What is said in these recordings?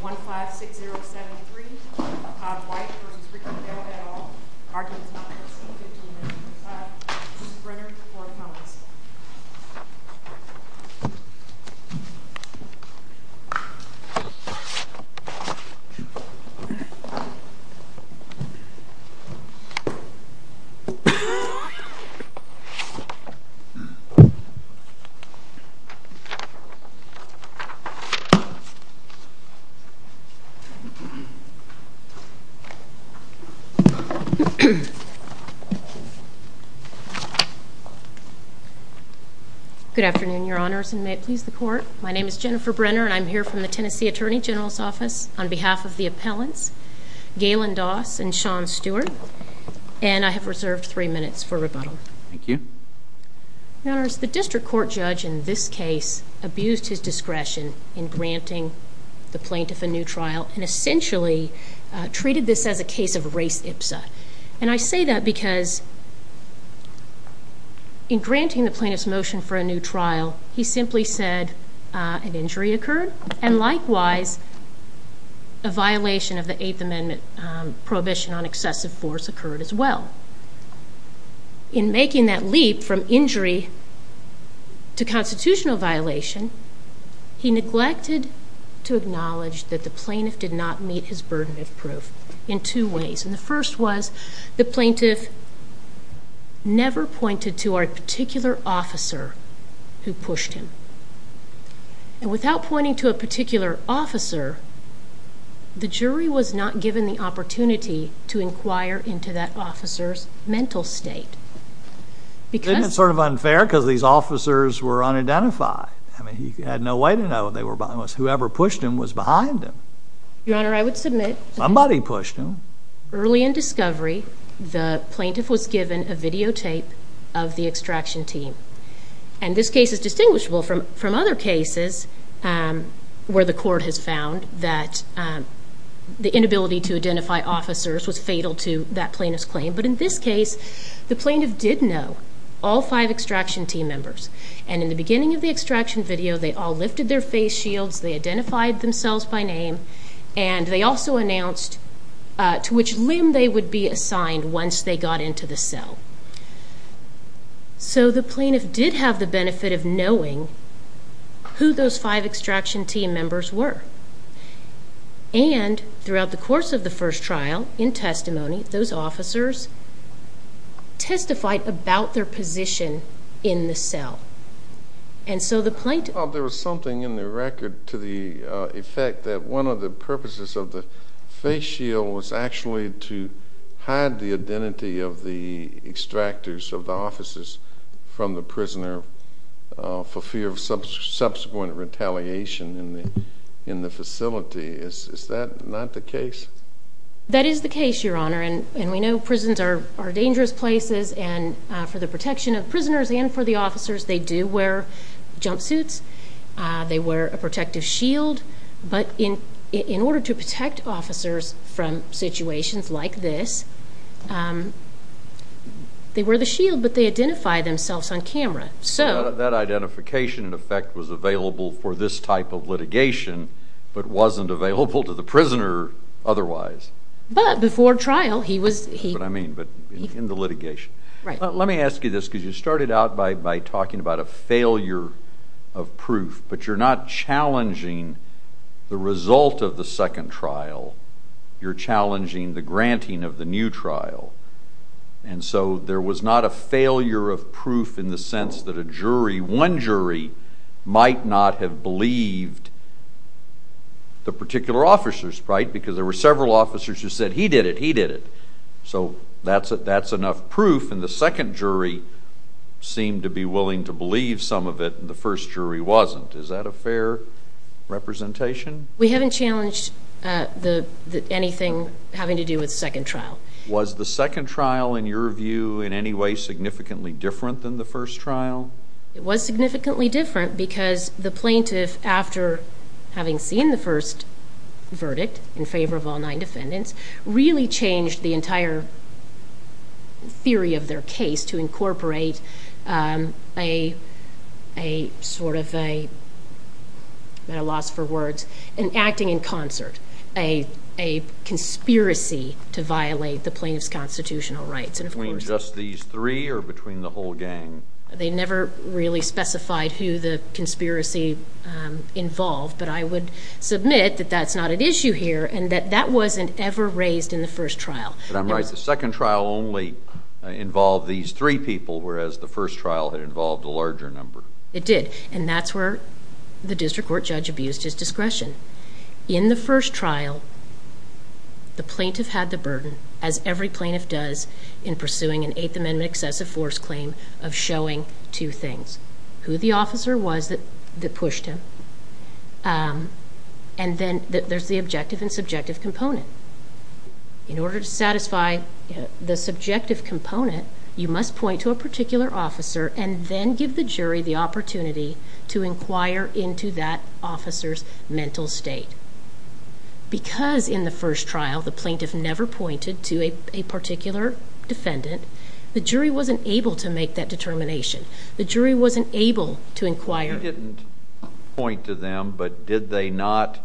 156073, Todd White v. Richard Bell et al., Arkansas, Tennessee, 1595. Mrs. Brenner, for comments. Good afternoon, Your Honors, and may it please the Court. My name is Jennifer Brenner, and I'm here from the Tennessee Attorney General's Office on behalf of the appellants, Galen Doss and Sean Stewart, and I have reserved three minutes for rebuttal. Thank you. Your Honors, the district court judge in this case abused his discretion in granting the plaintiff a new trial, and essentially treated this as a case of race ipsa. And I say that because in granting the plaintiff's motion for a new trial, he simply said an injury occurred, and likewise, a violation of the Eighth Amendment prohibition on excessive force occurred as well. However, in making that leap from injury to constitutional violation, he neglected to acknowledge that the plaintiff did not meet his burden of proof in two ways, and the first was the plaintiff never pointed to a particular officer who pushed him. And without pointing to a particular officer, the jury was not given the opportunity to make a judgmental state. Isn't it sort of unfair, because these officers were unidentified? I mean, he had no way to know they were behind him. Whoever pushed him was behind him. Your Honor, I would submit— Somebody pushed him. Early in discovery, the plaintiff was given a videotape of the extraction team. And this case is distinguishable from other cases where the court has found that the inability to identify officers was fatal to that plaintiff's claim. But in this case, the plaintiff did know all five extraction team members. And in the beginning of the extraction video, they all lifted their face shields, they identified themselves by name, and they also announced to which limb they would be assigned once they got into the cell. So the plaintiff did have the benefit of knowing who those five extraction team members were. And throughout the course of the first trial, in testimony, those officers testified about their position in the cell. And so the plaintiff— There was something in the record to the effect that one of the purposes of the face shield was actually to hide the identity of the extractors of the officers from the prisoner for fear of subsequent retaliation in the facility. Is that not the case? That is the case, Your Honor. And we know prisons are dangerous places, and for the protection of prisoners and for the officers, they do wear jumpsuits, they wear a protective shield. But in order to protect officers from situations like this, they wear the shield, but they identify themselves on camera. That identification, in effect, was available for this type of litigation, but wasn't available to the prisoner otherwise. But before trial, he was— That's what I mean, but in the litigation. Let me ask you this, because you started out by talking about a failure of proof, but you're not challenging the result of the second trial. You're challenging the granting of the new trial. And so there was not a failure of proof in the sense that a jury, one jury, might not have believed the particular officers, right? Because there were several officers who said, he did it, he did it. So that's enough proof, and the second jury seemed to be willing to believe some of it, and the first jury wasn't. Is that a fair representation? We haven't challenged anything having to do with the second trial. Was the second trial, in your view, in any way significantly different than the first trial? It was significantly different because the plaintiff, after having seen the first verdict in favor of all nine defendants, really changed the entire theory of their case to incorporate a sort of a, at a loss for words, an acting in concert, a conspiracy to violate the plaintiff's constitutional rights. Between just these three, or between the whole gang? They never really specified who the conspiracy involved, but I would submit that that's not an issue here, and that that wasn't ever raised in the first trial. But I'm right, the second trial only involved these three people, whereas the first trial had involved a larger number. It did, and that's where the district court judge abused his discretion. In the first trial, the plaintiff had the burden, as every plaintiff does in pursuing an Eighth Amendment excessive force claim, of showing two things. Who the officer was that pushed him, and then there's the objective and subjective component. In order to satisfy the subjective component, you must point to a particular officer and then give the jury the opportunity to inquire into that officer's mental state. Because in the first trial, the plaintiff never pointed to a particular defendant, the jury wasn't able to make that determination. The jury wasn't able to inquire... The jury didn't point to them, but did they not,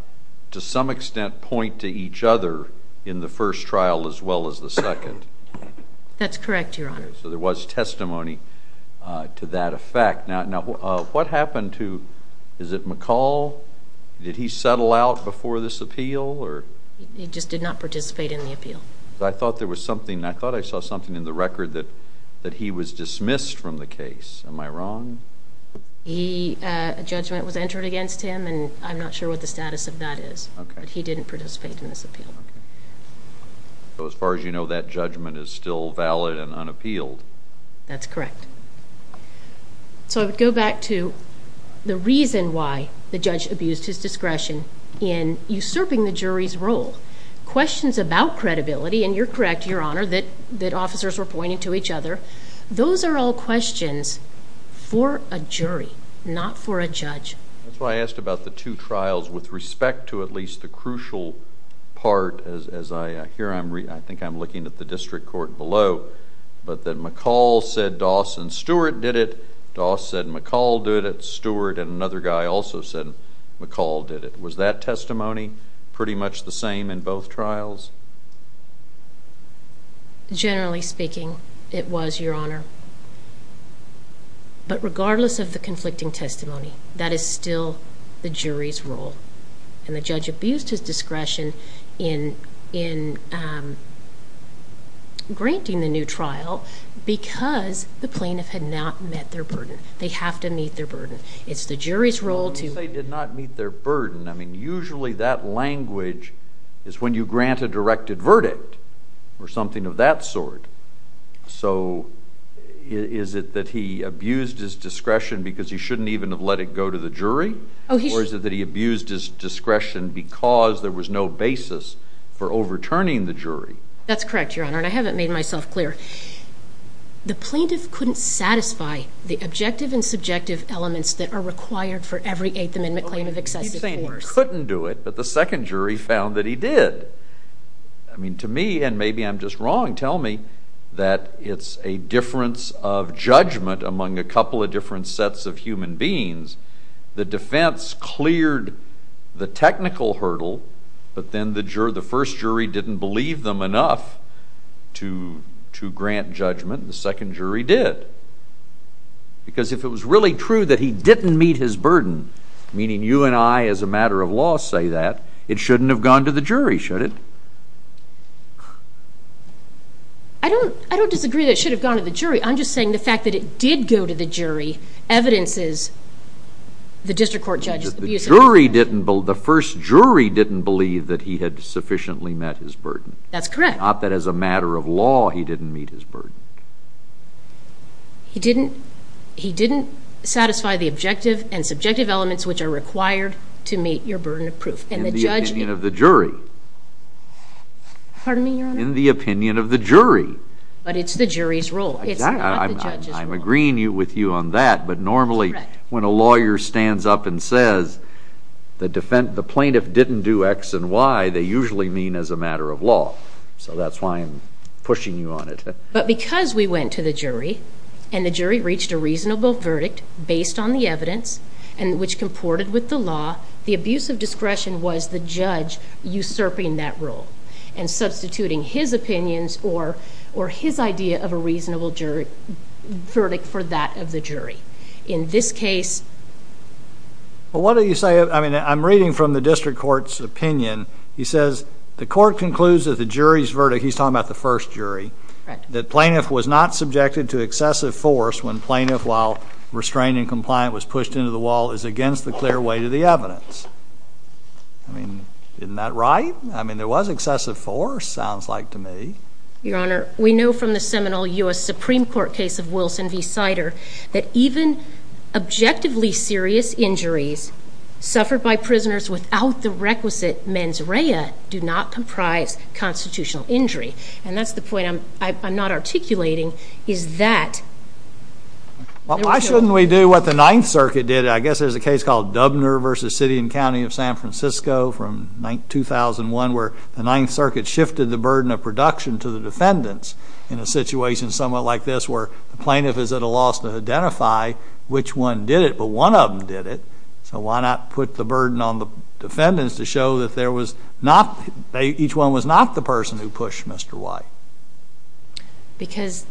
to some extent, point to each other in the first trial as well as the second? That's correct, Your Honor. So there was testimony to that effect. Now, what happened to... is it McCall? Did he settle out before this appeal? He just did not participate in the appeal. I thought there was something... I thought I saw something in the record that he was dismissed from the case. Am I wrong? He... a judgment was entered against him, and I'm not sure what the status of that is. He didn't participate in this appeal. So as far as you know, that judgment is still valid and unappealed? That's correct. So I would go back to the reason why the judge abused his discretion in usurping the jury's role. Questions about credibility, and you're correct, Your Honor, that officers were pointing to each other. Those are all questions for a jury, not for a judge. That's why I asked about the two trials with respect to at least the crucial part as I... here I'm... I think I'm looking at the district court below, but that McCall said Doss and Stewart did it. Doss said McCall did it. Stewart and another guy also said McCall did it. Was that testimony pretty much the same in both trials? Generally speaking, it was, Your Honor, but regardless of the conflicting testimony, that is still the jury's role, and the judge abused his discretion in granting the new trial because the plaintiff had not met their burden. They have to meet their burden. It's the jury's role to... So is it that he abused his discretion because he shouldn't even have let it go to the jury, or is it that he abused his discretion because there was no basis for overturning the jury? That's correct, Your Honor, and I haven't made myself clear. The plaintiff couldn't satisfy the objective and subjective elements that are required for every Eighth Amendment claim of excessive force. He couldn't do it, but the second jury found that he did. To me, and maybe I'm just wrong, tell me that it's a difference of judgment among a couple of different sets of human beings. The defense cleared the technical hurdle, but then the first jury didn't believe them enough to grant judgment. The second jury did, because if it was really true that he didn't meet his burden, meaning you and I, as a matter of law, say that, it shouldn't have gone to the jury, should it? I don't disagree that it should have gone to the jury. I'm just saying the fact that it did go to the jury evidences the district court judge's abuse of discretion. The first jury didn't believe that he had sufficiently met his burden. That's correct. Not that as a matter of law he didn't meet his burden. He didn't satisfy the objective and subjective elements which are required to meet your burden of proof. In the opinion of the jury. Pardon me, Your Honor? In the opinion of the jury. But it's the jury's role. It's not the judge's role. I'm agreeing with you on that, but normally when a lawyer stands up and says the plaintiff didn't do X and Y, they usually mean as a matter of law. So that's why I'm pushing you on it. But because we went to the jury and the jury reached a reasonable verdict based on the evidence and which comported with the law, the abuse of discretion was the judge usurping that rule and substituting his opinions or his idea of a reasonable verdict for that of the jury. In this case. Well, what do you say, I mean, I'm reading from the district court's opinion. He says the court concludes that the jury's verdict, he's talking about the first jury. Correct. That plaintiff was not subjected to excessive force when plaintiff, while restraining compliant, was pushed into the wall is against the clear weight of the evidence. I mean, isn't that right? I mean, there was excessive force, sounds like to me. Your Honor, we know from the seminal U.S. Supreme Court case of Wilson v. Sider that even objectively serious injuries suffered by prisoners without the requisite mens rea do not comprise constitutional injury. And that's the point I'm not articulating, is that... Well, why shouldn't we do what the Ninth Circuit did? I guess there's a case called Dubner v. City and County of San Francisco from 2001 where the Ninth Circuit shifted the burden of production to the defendants in a situation somewhat like this where the plaintiff is at a loss to identify which one did it, but one of them did it. So why not put the burden on the defendants to show that there was not, each one was not the person who pushed Mr. Y? Because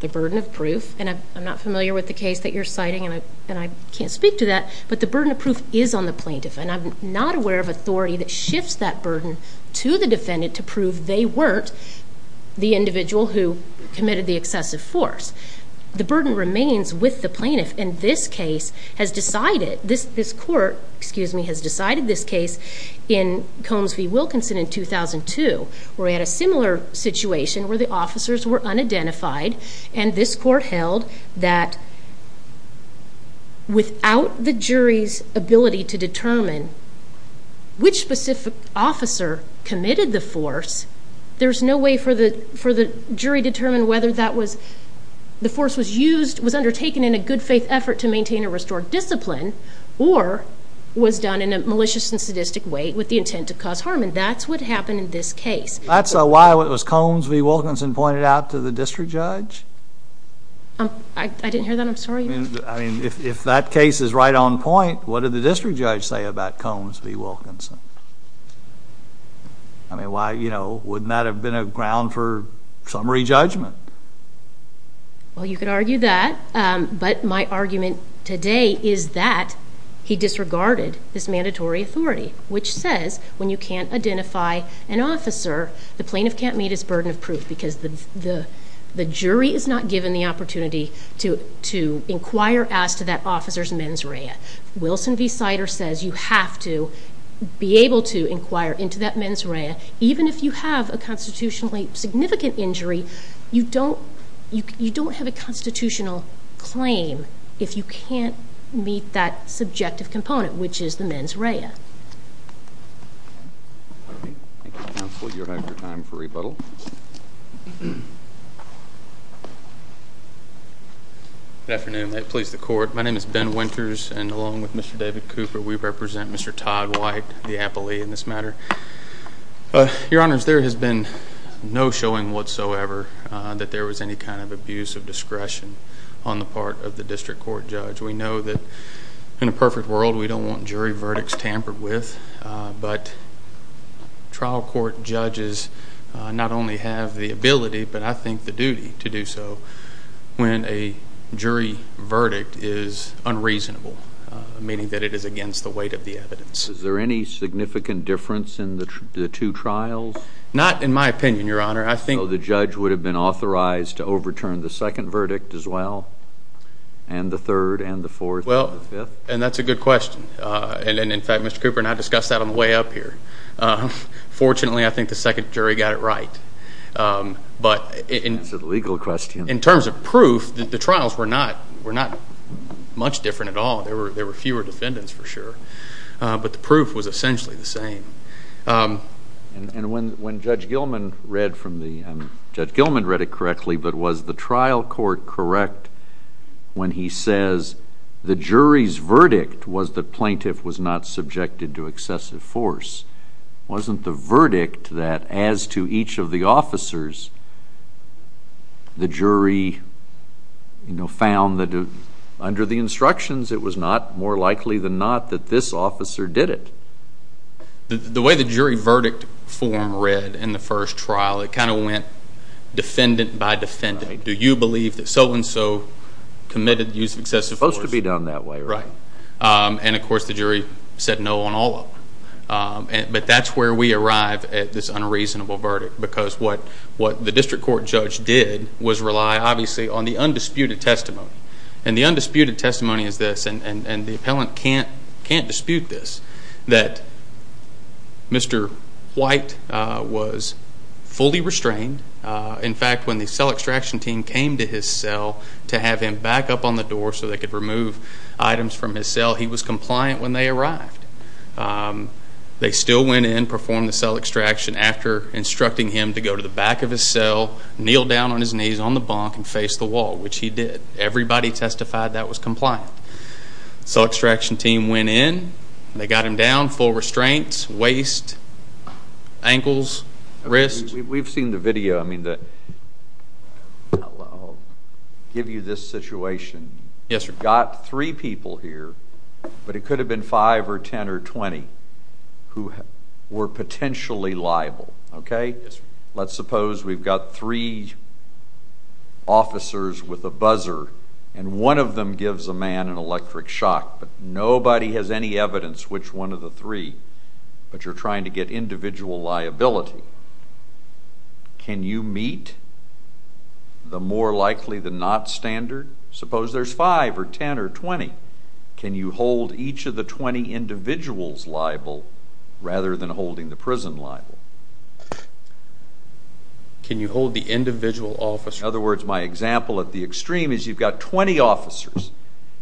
the burden of proof, and I'm not familiar with the case that you're citing and I can't speak to that, but the burden of proof is on the plaintiff and I'm not aware of authority that shifts that burden to the defendant to prove they weren't the individual who committed the excessive force. The burden remains with the plaintiff and this case has decided, this court, excuse me, in 2002 where we had a similar situation where the officers were unidentified and this court held that without the jury's ability to determine which specific officer committed the force, there's no way for the jury to determine whether the force was used, was undertaken in a good faith effort to maintain a restored discipline or was done in a malicious and sadistic way with the intent to cause harm. And that's what happened in this case. That's why it was Combs v. Wilkinson pointed out to the district judge? I didn't hear that. I'm sorry. I mean, if that case is right on point, what did the district judge say about Combs v. Wilkinson? I mean, why, you know, wouldn't that have been a ground for summary judgment? Well, you could argue that, but my argument today is that he disregarded this mandatory authority which says when you can't identify an officer, the plaintiff can't meet his burden of proof because the jury is not given the opportunity to inquire as to that officer's mens rea. Wilson v. Sider says you have to be able to inquire into that mens rea even if you have a constitutionally significant injury, you don't have a constitutional claim if you can't meet that subjective component, which is the mens rea. Thank you, counsel. You have your time for rebuttal. Good afternoon. May it please the court. My name is Ben Winters, and along with Mr. David Cooper, we represent Mr. Todd White, the appellee in this matter. Your honors, there has been no showing whatsoever that there was any kind of abuse of discretion on the part of the district court judge. We know that in a perfect world, we don't want jury verdicts tampered with, but trial court judges not only have the ability, but I think the duty to do so when a jury verdict is unreasonable, meaning that it is against the weight of the evidence. Is there any significant difference in the two trials? Not in my opinion, your honor. I think the judge would have been authorized to overturn the second verdict as well and the third and the fourth and the fifth. And that's a good question. And in fact, Mr. Cooper and I discussed that on the way up here. Fortunately, I think the second jury got it right. But in terms of proof, the trials were not much different at all. There were fewer defendants for sure, but the proof was essentially the same. And when Judge Gilman read from the, Judge Gilman read it correctly, but was the trial court correct when he says the jury's verdict was the plaintiff was not subjected to excessive force? Wasn't the verdict that as to each of the officers, the jury found that under the instructions, it was not more likely than not that this officer did it? The way the jury verdict form read in the first trial, it kind of went defendant by defendant. Do you believe that so and so committed the use of excessive force? It's supposed to be done that way, right? Right. And of course, the jury said no on all of them. But that's where we arrive at this unreasonable verdict. Because what the district court judge did was rely obviously on the undisputed testimony. And the undisputed testimony is this, and the appellant can't dispute this, that Mr. White was fully restrained. In fact, when the cell extraction team came to his cell to have him back up on the door so they could remove items from his cell, he was compliant when they arrived. They still went in, performed the cell extraction after instructing him to go to the back of his cell, kneel down on his knees on the bunk and face the wall, which he did. Everybody testified that was compliant. Cell extraction team went in, they got him down, full restraints, waist, ankles, wrists. We've seen the video. I mean, I'll give you this situation. Yes, sir. Got three people here, but it could have been five or 10 or 20, who were potentially liable, okay? Yes, sir. Let's suppose we've got three officers with a buzzer, and one of them gives a man an electric shock, but nobody has any evidence which one of the three, but you're trying to get individual liability. Can you meet the more likely than not standard? Suppose there's five or 10 or 20. Can you hold each of the 20 individuals liable, rather than holding the prison liable? Can you hold the individual officer? In other words, my example at the extreme is you've got 20 officers,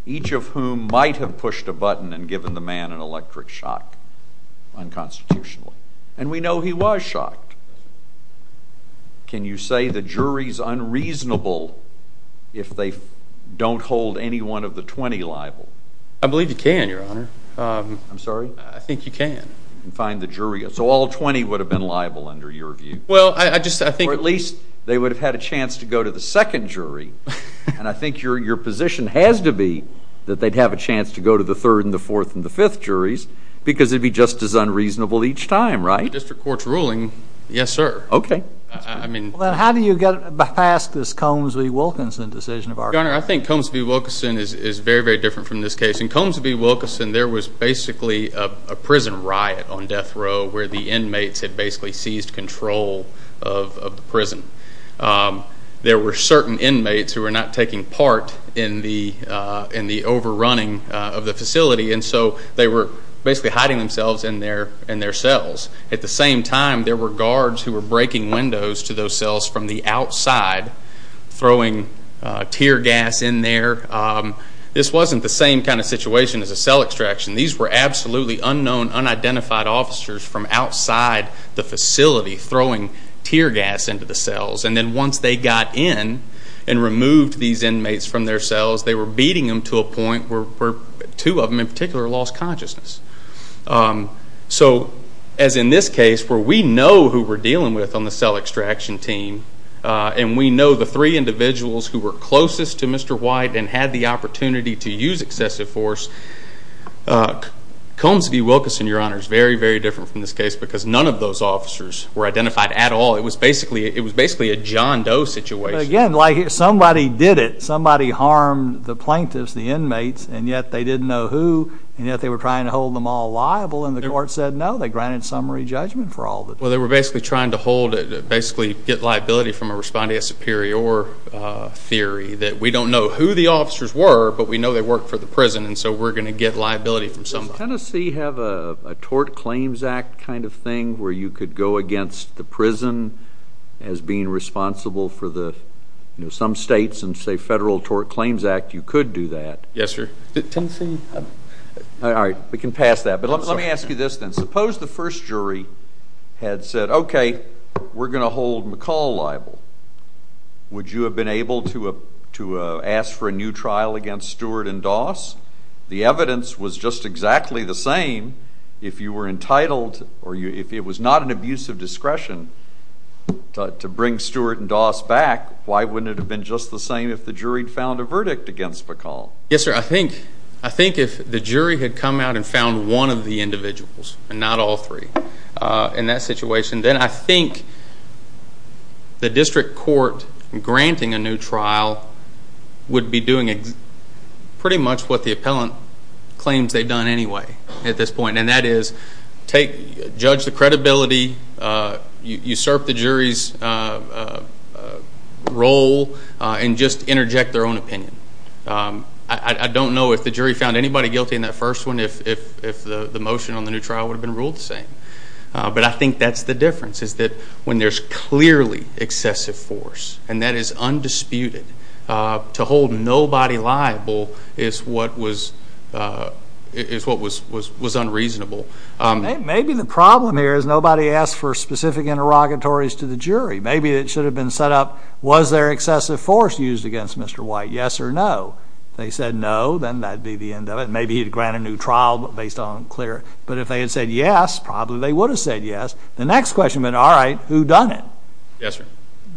each of whom might have pushed a button and given the man an electric shock unconstitutionally. And we know he was shocked. Can you say the jury's unreasonable if they don't hold any one of the 20 liable? I believe you can, Your Honor. I'm sorry? I think you can. You can find the jury. So all 20 would have been liable, under your view? Well, I just think— Or at least they would have had a chance to go to the second jury, and I think your position has to be that they'd have a chance to go to the third and the fourth and the fifth District Court's ruling, yes, sir. Okay. Well, then how do you get past this Combs v. Wilkinson decision of ours? Your Honor, I think Combs v. Wilkinson is very, very different from this case. In Combs v. Wilkinson, there was basically a prison riot on death row where the inmates had basically seized control of the prison. There were certain inmates who were not taking part in the overrunning of the facility, and so they were basically hiding themselves in their cells. At the same time, there were guards who were breaking windows to those cells from the outside, throwing tear gas in there. This wasn't the same kind of situation as a cell extraction. These were absolutely unknown, unidentified officers from outside the facility throwing tear gas into the cells. And then once they got in and removed these inmates from their cells, they were beating them to a point where two of them in particular lost consciousness. So as in this case, where we know who we're dealing with on the cell extraction team, and we know the three individuals who were closest to Mr. White and had the opportunity to use excessive force, Combs v. Wilkinson, Your Honor, is very, very different from this case because none of those officers were identified at all. It was basically a John Doe situation. But again, like somebody did it. Somebody harmed the plaintiffs, the inmates, and yet they didn't know who, and yet they were trying to hold them all liable, and the court said, no, they granted summary judgment for all of it. Well, they were basically trying to hold it, basically get liability from a respondee of superior theory that we don't know who the officers were, but we know they worked for the prison, and so we're going to get liability from somebody. Does Tennessee have a Tort Claims Act kind of thing where you could go against the prison as being responsible for the, you know, some states and say Federal Tort Claims Act, you could do that? Yes, sir. Tennessee? All right. We can pass that. But let me ask you this then. Suppose the first jury had said, okay, we're going to hold McCall liable. Would you have been able to ask for a new trial against Stewart and Doss? The evidence was just exactly the same. If you were entitled or if it was not an abuse of discretion to bring Stewart and Doss back, why wouldn't it have been just the same if the jury had found a verdict against McCall? Yes, sir. I think if the jury had come out and found one of the individuals, and not all three, in that situation, then I think the district court granting a new trial would be doing pretty much what the appellant claims they've done anyway at this point, and that is judge the credibility, usurp the jury's role, and just interject their own opinion. I don't know if the jury found anybody guilty in that first one if the motion on the new trial would have been ruled the same. But I think that's the difference, is that when there's clearly excessive force, and that is undisputed, to hold nobody liable is what was unreasonable. Maybe the problem here is nobody asked for specific interrogatories to the jury. Maybe it should have been set up, was there excessive force used against Mr. White, yes or no? If they said no, then that'd be the end of it. Maybe he'd grant a new trial based on clear, but if they had said yes, probably they would have said yes. The next question would have been, all right, who done it? Yes, sir.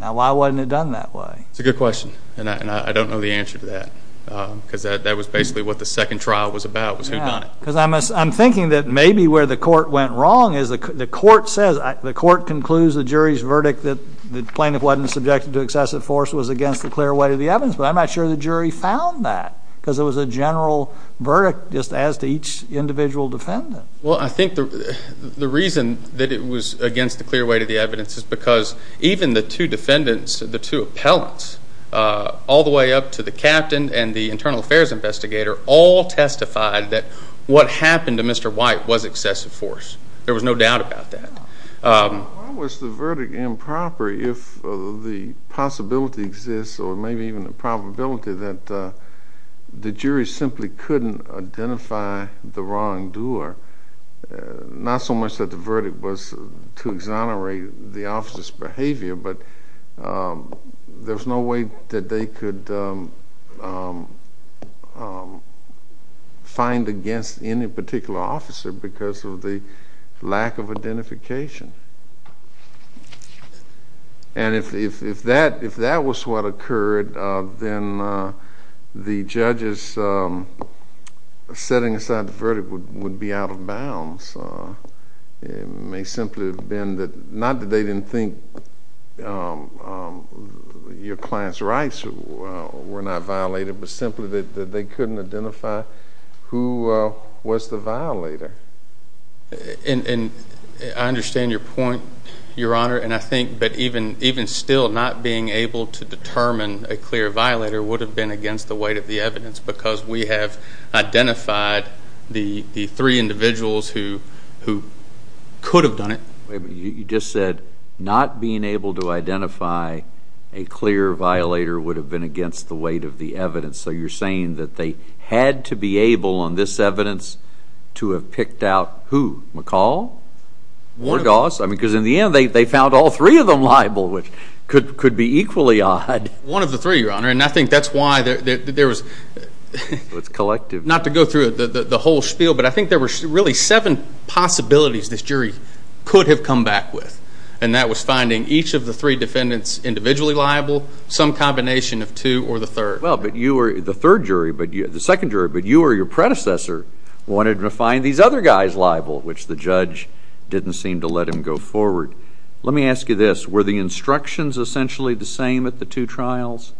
Now, why wasn't it done that way? It's a good question, and I don't know the answer to that, because that was basically what the second trial was about, was who done it. I'm thinking that maybe where the court went wrong is the court concludes the jury's verdict that the plaintiff wasn't subjected to excessive force was against the clear weight of the evidence, but I'm not sure the jury found that, because it was a general verdict just as to each individual defendant. Well, I think the reason that it was against the clear weight of the evidence is because the two defendants, the two appellants, all the way up to the captain and the internal affairs investigator all testified that what happened to Mr. White was excessive force. There was no doubt about that. Why was the verdict improper if the possibility exists or maybe even the probability that the jury simply couldn't identify the wrongdoer, not so much that the verdict was to exonerate the officer's behavior, but there was no way that they could find against any particular officer because of the lack of identification. And if that was what occurred, then the judge's setting aside the verdict would be out of bounds. It may simply have been that not that they didn't think your client's rights were not violated, but simply that they couldn't identify who was the violator. And I understand your point, Your Honor, and I think that even still not being able to determine a clear violator would have been against the weight of the evidence because we have identified the three individuals who could have done it. You just said not being able to identify a clear violator would have been against the weight of the evidence. So you're saying that they had to be able on this evidence to have picked out who? McCall? Wardoss? Because in the end they found all three of them liable, which could be equally odd. One of the three, Your Honor. And I think that's why there was, not to go through the whole spiel, but I think there were really seven possibilities this jury could have come back with. And that was finding each of the three defendants individually liable, some combination of two or the third. Well, but you were the third jury, the second jury, but you or your predecessor wanted to find these other guys liable, which the judge didn't seem to let him go forward. Let me ask you this. Were the instructions essentially the same at the two trials?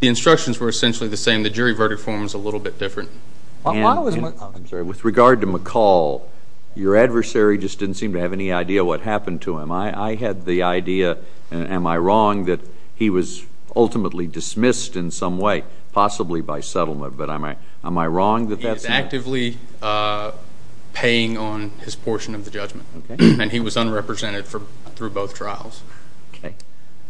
The instructions were essentially the same. The jury verdict form is a little bit different. With regard to McCall, your adversary just didn't seem to have any idea what happened to him. I had the idea, am I wrong, that he was ultimately dismissed in some way, possibly by settlement, but am I wrong that that's not? He was actively paying on his portion of the judgment. And he was unrepresented through both trials.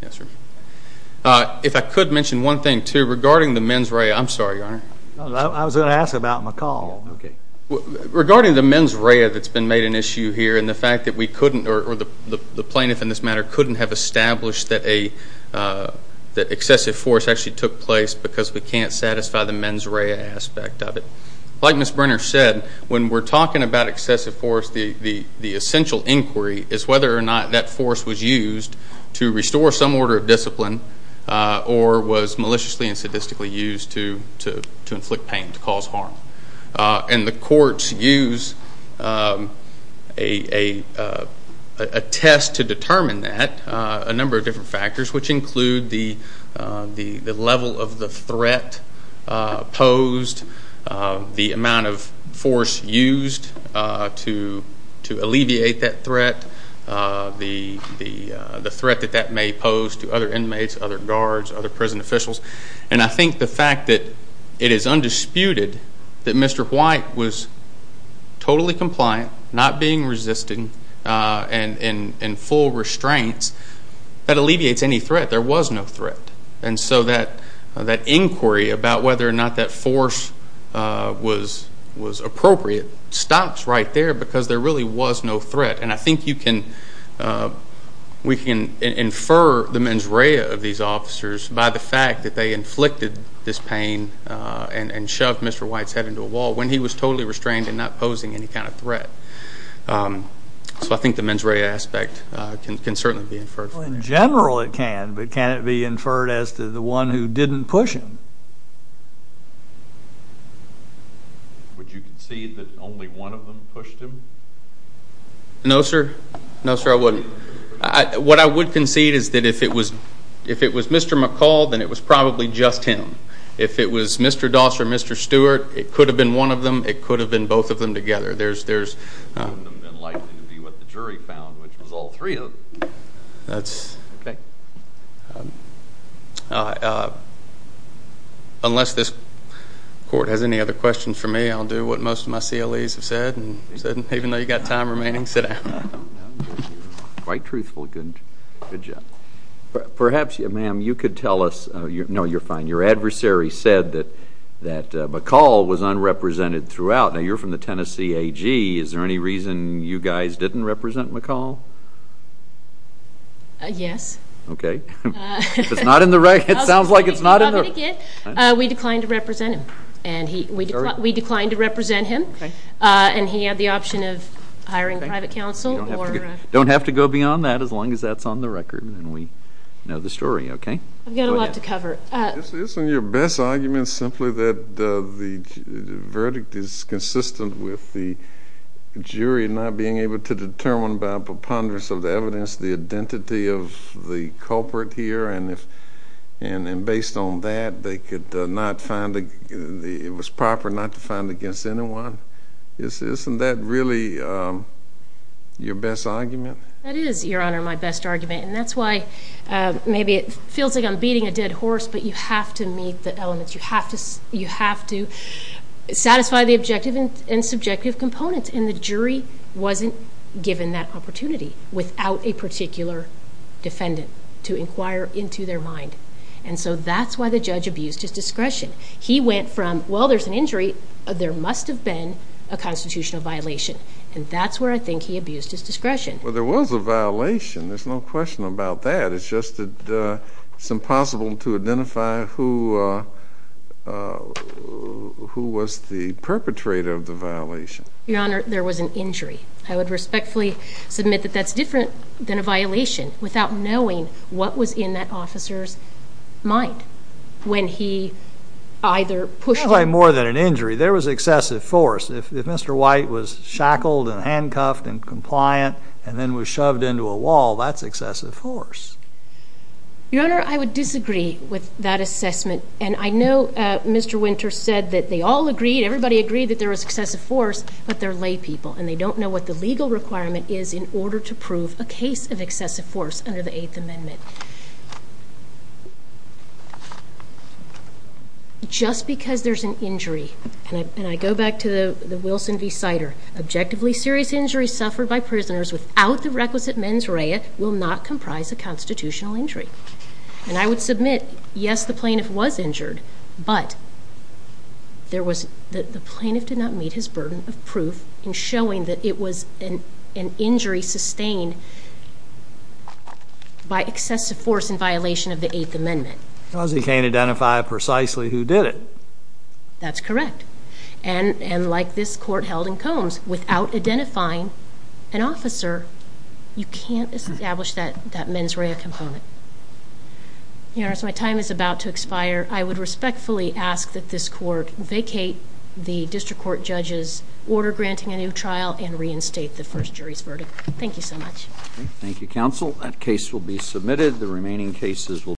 If I could mention one thing, too, regarding the mens rea, I'm sorry, Your Honor. I was going to ask about McCall. Regarding the mens rea that's been made an issue here and the fact that we couldn't, or the plaintiff in this matter couldn't have established that excessive force actually took place because we can't satisfy the mens rea aspect of it, like Ms. Brenner said, when we're talking about excessive force, the essential inquiry is whether or not that force was used to restore some order of discipline or was maliciously and sadistically used to inflict pain, to cause harm. And the courts use a test to determine that, a number of different factors, which include the level of the threat posed, the amount of force used to alleviate that threat, the threat that that may pose to other inmates, other guards, other prison officials. And I think the fact that it is undisputed that Mr. White was totally compliant, not being resistant, and in full restraints, that alleviates any threat. There was no threat. And so that inquiry about whether or not that force was appropriate stops right there because there really was no threat. And I think you can, we can infer the mens rea of these officers by the fact that they inflicted this pain and shoved Mr. White's head into a wall when he was totally restrained and not posing any kind of threat. So I think the mens rea aspect can certainly be inferred from that. Well, in general it can, but can it be inferred as to the one who didn't push him? Would you concede that only one of them pushed him? No sir. No sir, I wouldn't. What I would concede is that if it was Mr. McCall, then it was probably just him. If it was Mr. Doss or Mr. Stewart, it could have been one of them, it could have been both of them together. It would have been likely to be what the jury found, which was all three of them. Unless this court has any other questions for me, I'll do what most of my CLEs have said. Even though you've got time remaining, sit down. Quite truthful. Good job. Perhaps, ma'am, you could tell us, no you're fine, your adversary said that McCall was unrepresented throughout. Now, you're from the Tennessee AG. Is there any reason you guys didn't represent McCall? Yes. Okay. If it's not in the record, it sounds like it's not in the record. We declined to represent him, and he had the option of hiring private counsel. Don't have to go beyond that, as long as that's on the record and we know the story, okay? I've got a lot to cover. Isn't your best argument simply that the verdict is consistent with the jury not being able to determine by preponderance of the evidence the identity of the culprit here, and based on that, it was proper not to find against anyone? Isn't that really your best argument? That is, Your Honor, my best argument. That's why maybe it feels like I'm beating a dead horse, but you have to meet the elements. You have to satisfy the objective and subjective components, and the jury wasn't given that opportunity without a particular defendant to inquire into their mind. That's why the judge abused his discretion. He went from, well, there's an injury, there must have been a constitutional violation. That's where I think he abused his discretion. There was a violation. There's no question about that. It's just that it's impossible to identify who was the perpetrator of the violation. Your Honor, there was an injury. I would respectfully submit that that's different than a violation, without knowing what was in that officer's mind when he either pushed him... It wasn't more than an injury. There was excessive force. If Mr. White was shackled and handcuffed and compliant and then was shoved into a wall, that's excessive force. Your Honor, I would disagree with that assessment. I know Mr. Winter said that they all agreed, everybody agreed that there was excessive force, but they're laypeople, and they don't know what the legal requirement is in order to prove a case of excessive force under the Eighth Amendment. But just because there's an injury, and I go back to the Wilson v. Sider, objectively serious injuries suffered by prisoners without the requisite mens rea will not comprise a constitutional injury. And I would submit, yes, the plaintiff was injured, but the plaintiff did not meet his excessive force in violation of the Eighth Amendment. Because he can't identify precisely who did it. That's correct. And like this court held in Combs, without identifying an officer, you can't establish that mens rea component. Your Honor, as my time is about to expire, I would respectfully ask that this court vacate the district court judge's order granting a new trial and reinstate the first jury's verdict. Thank you so much. Thank you, counsel. That case will be submitted. The remaining cases will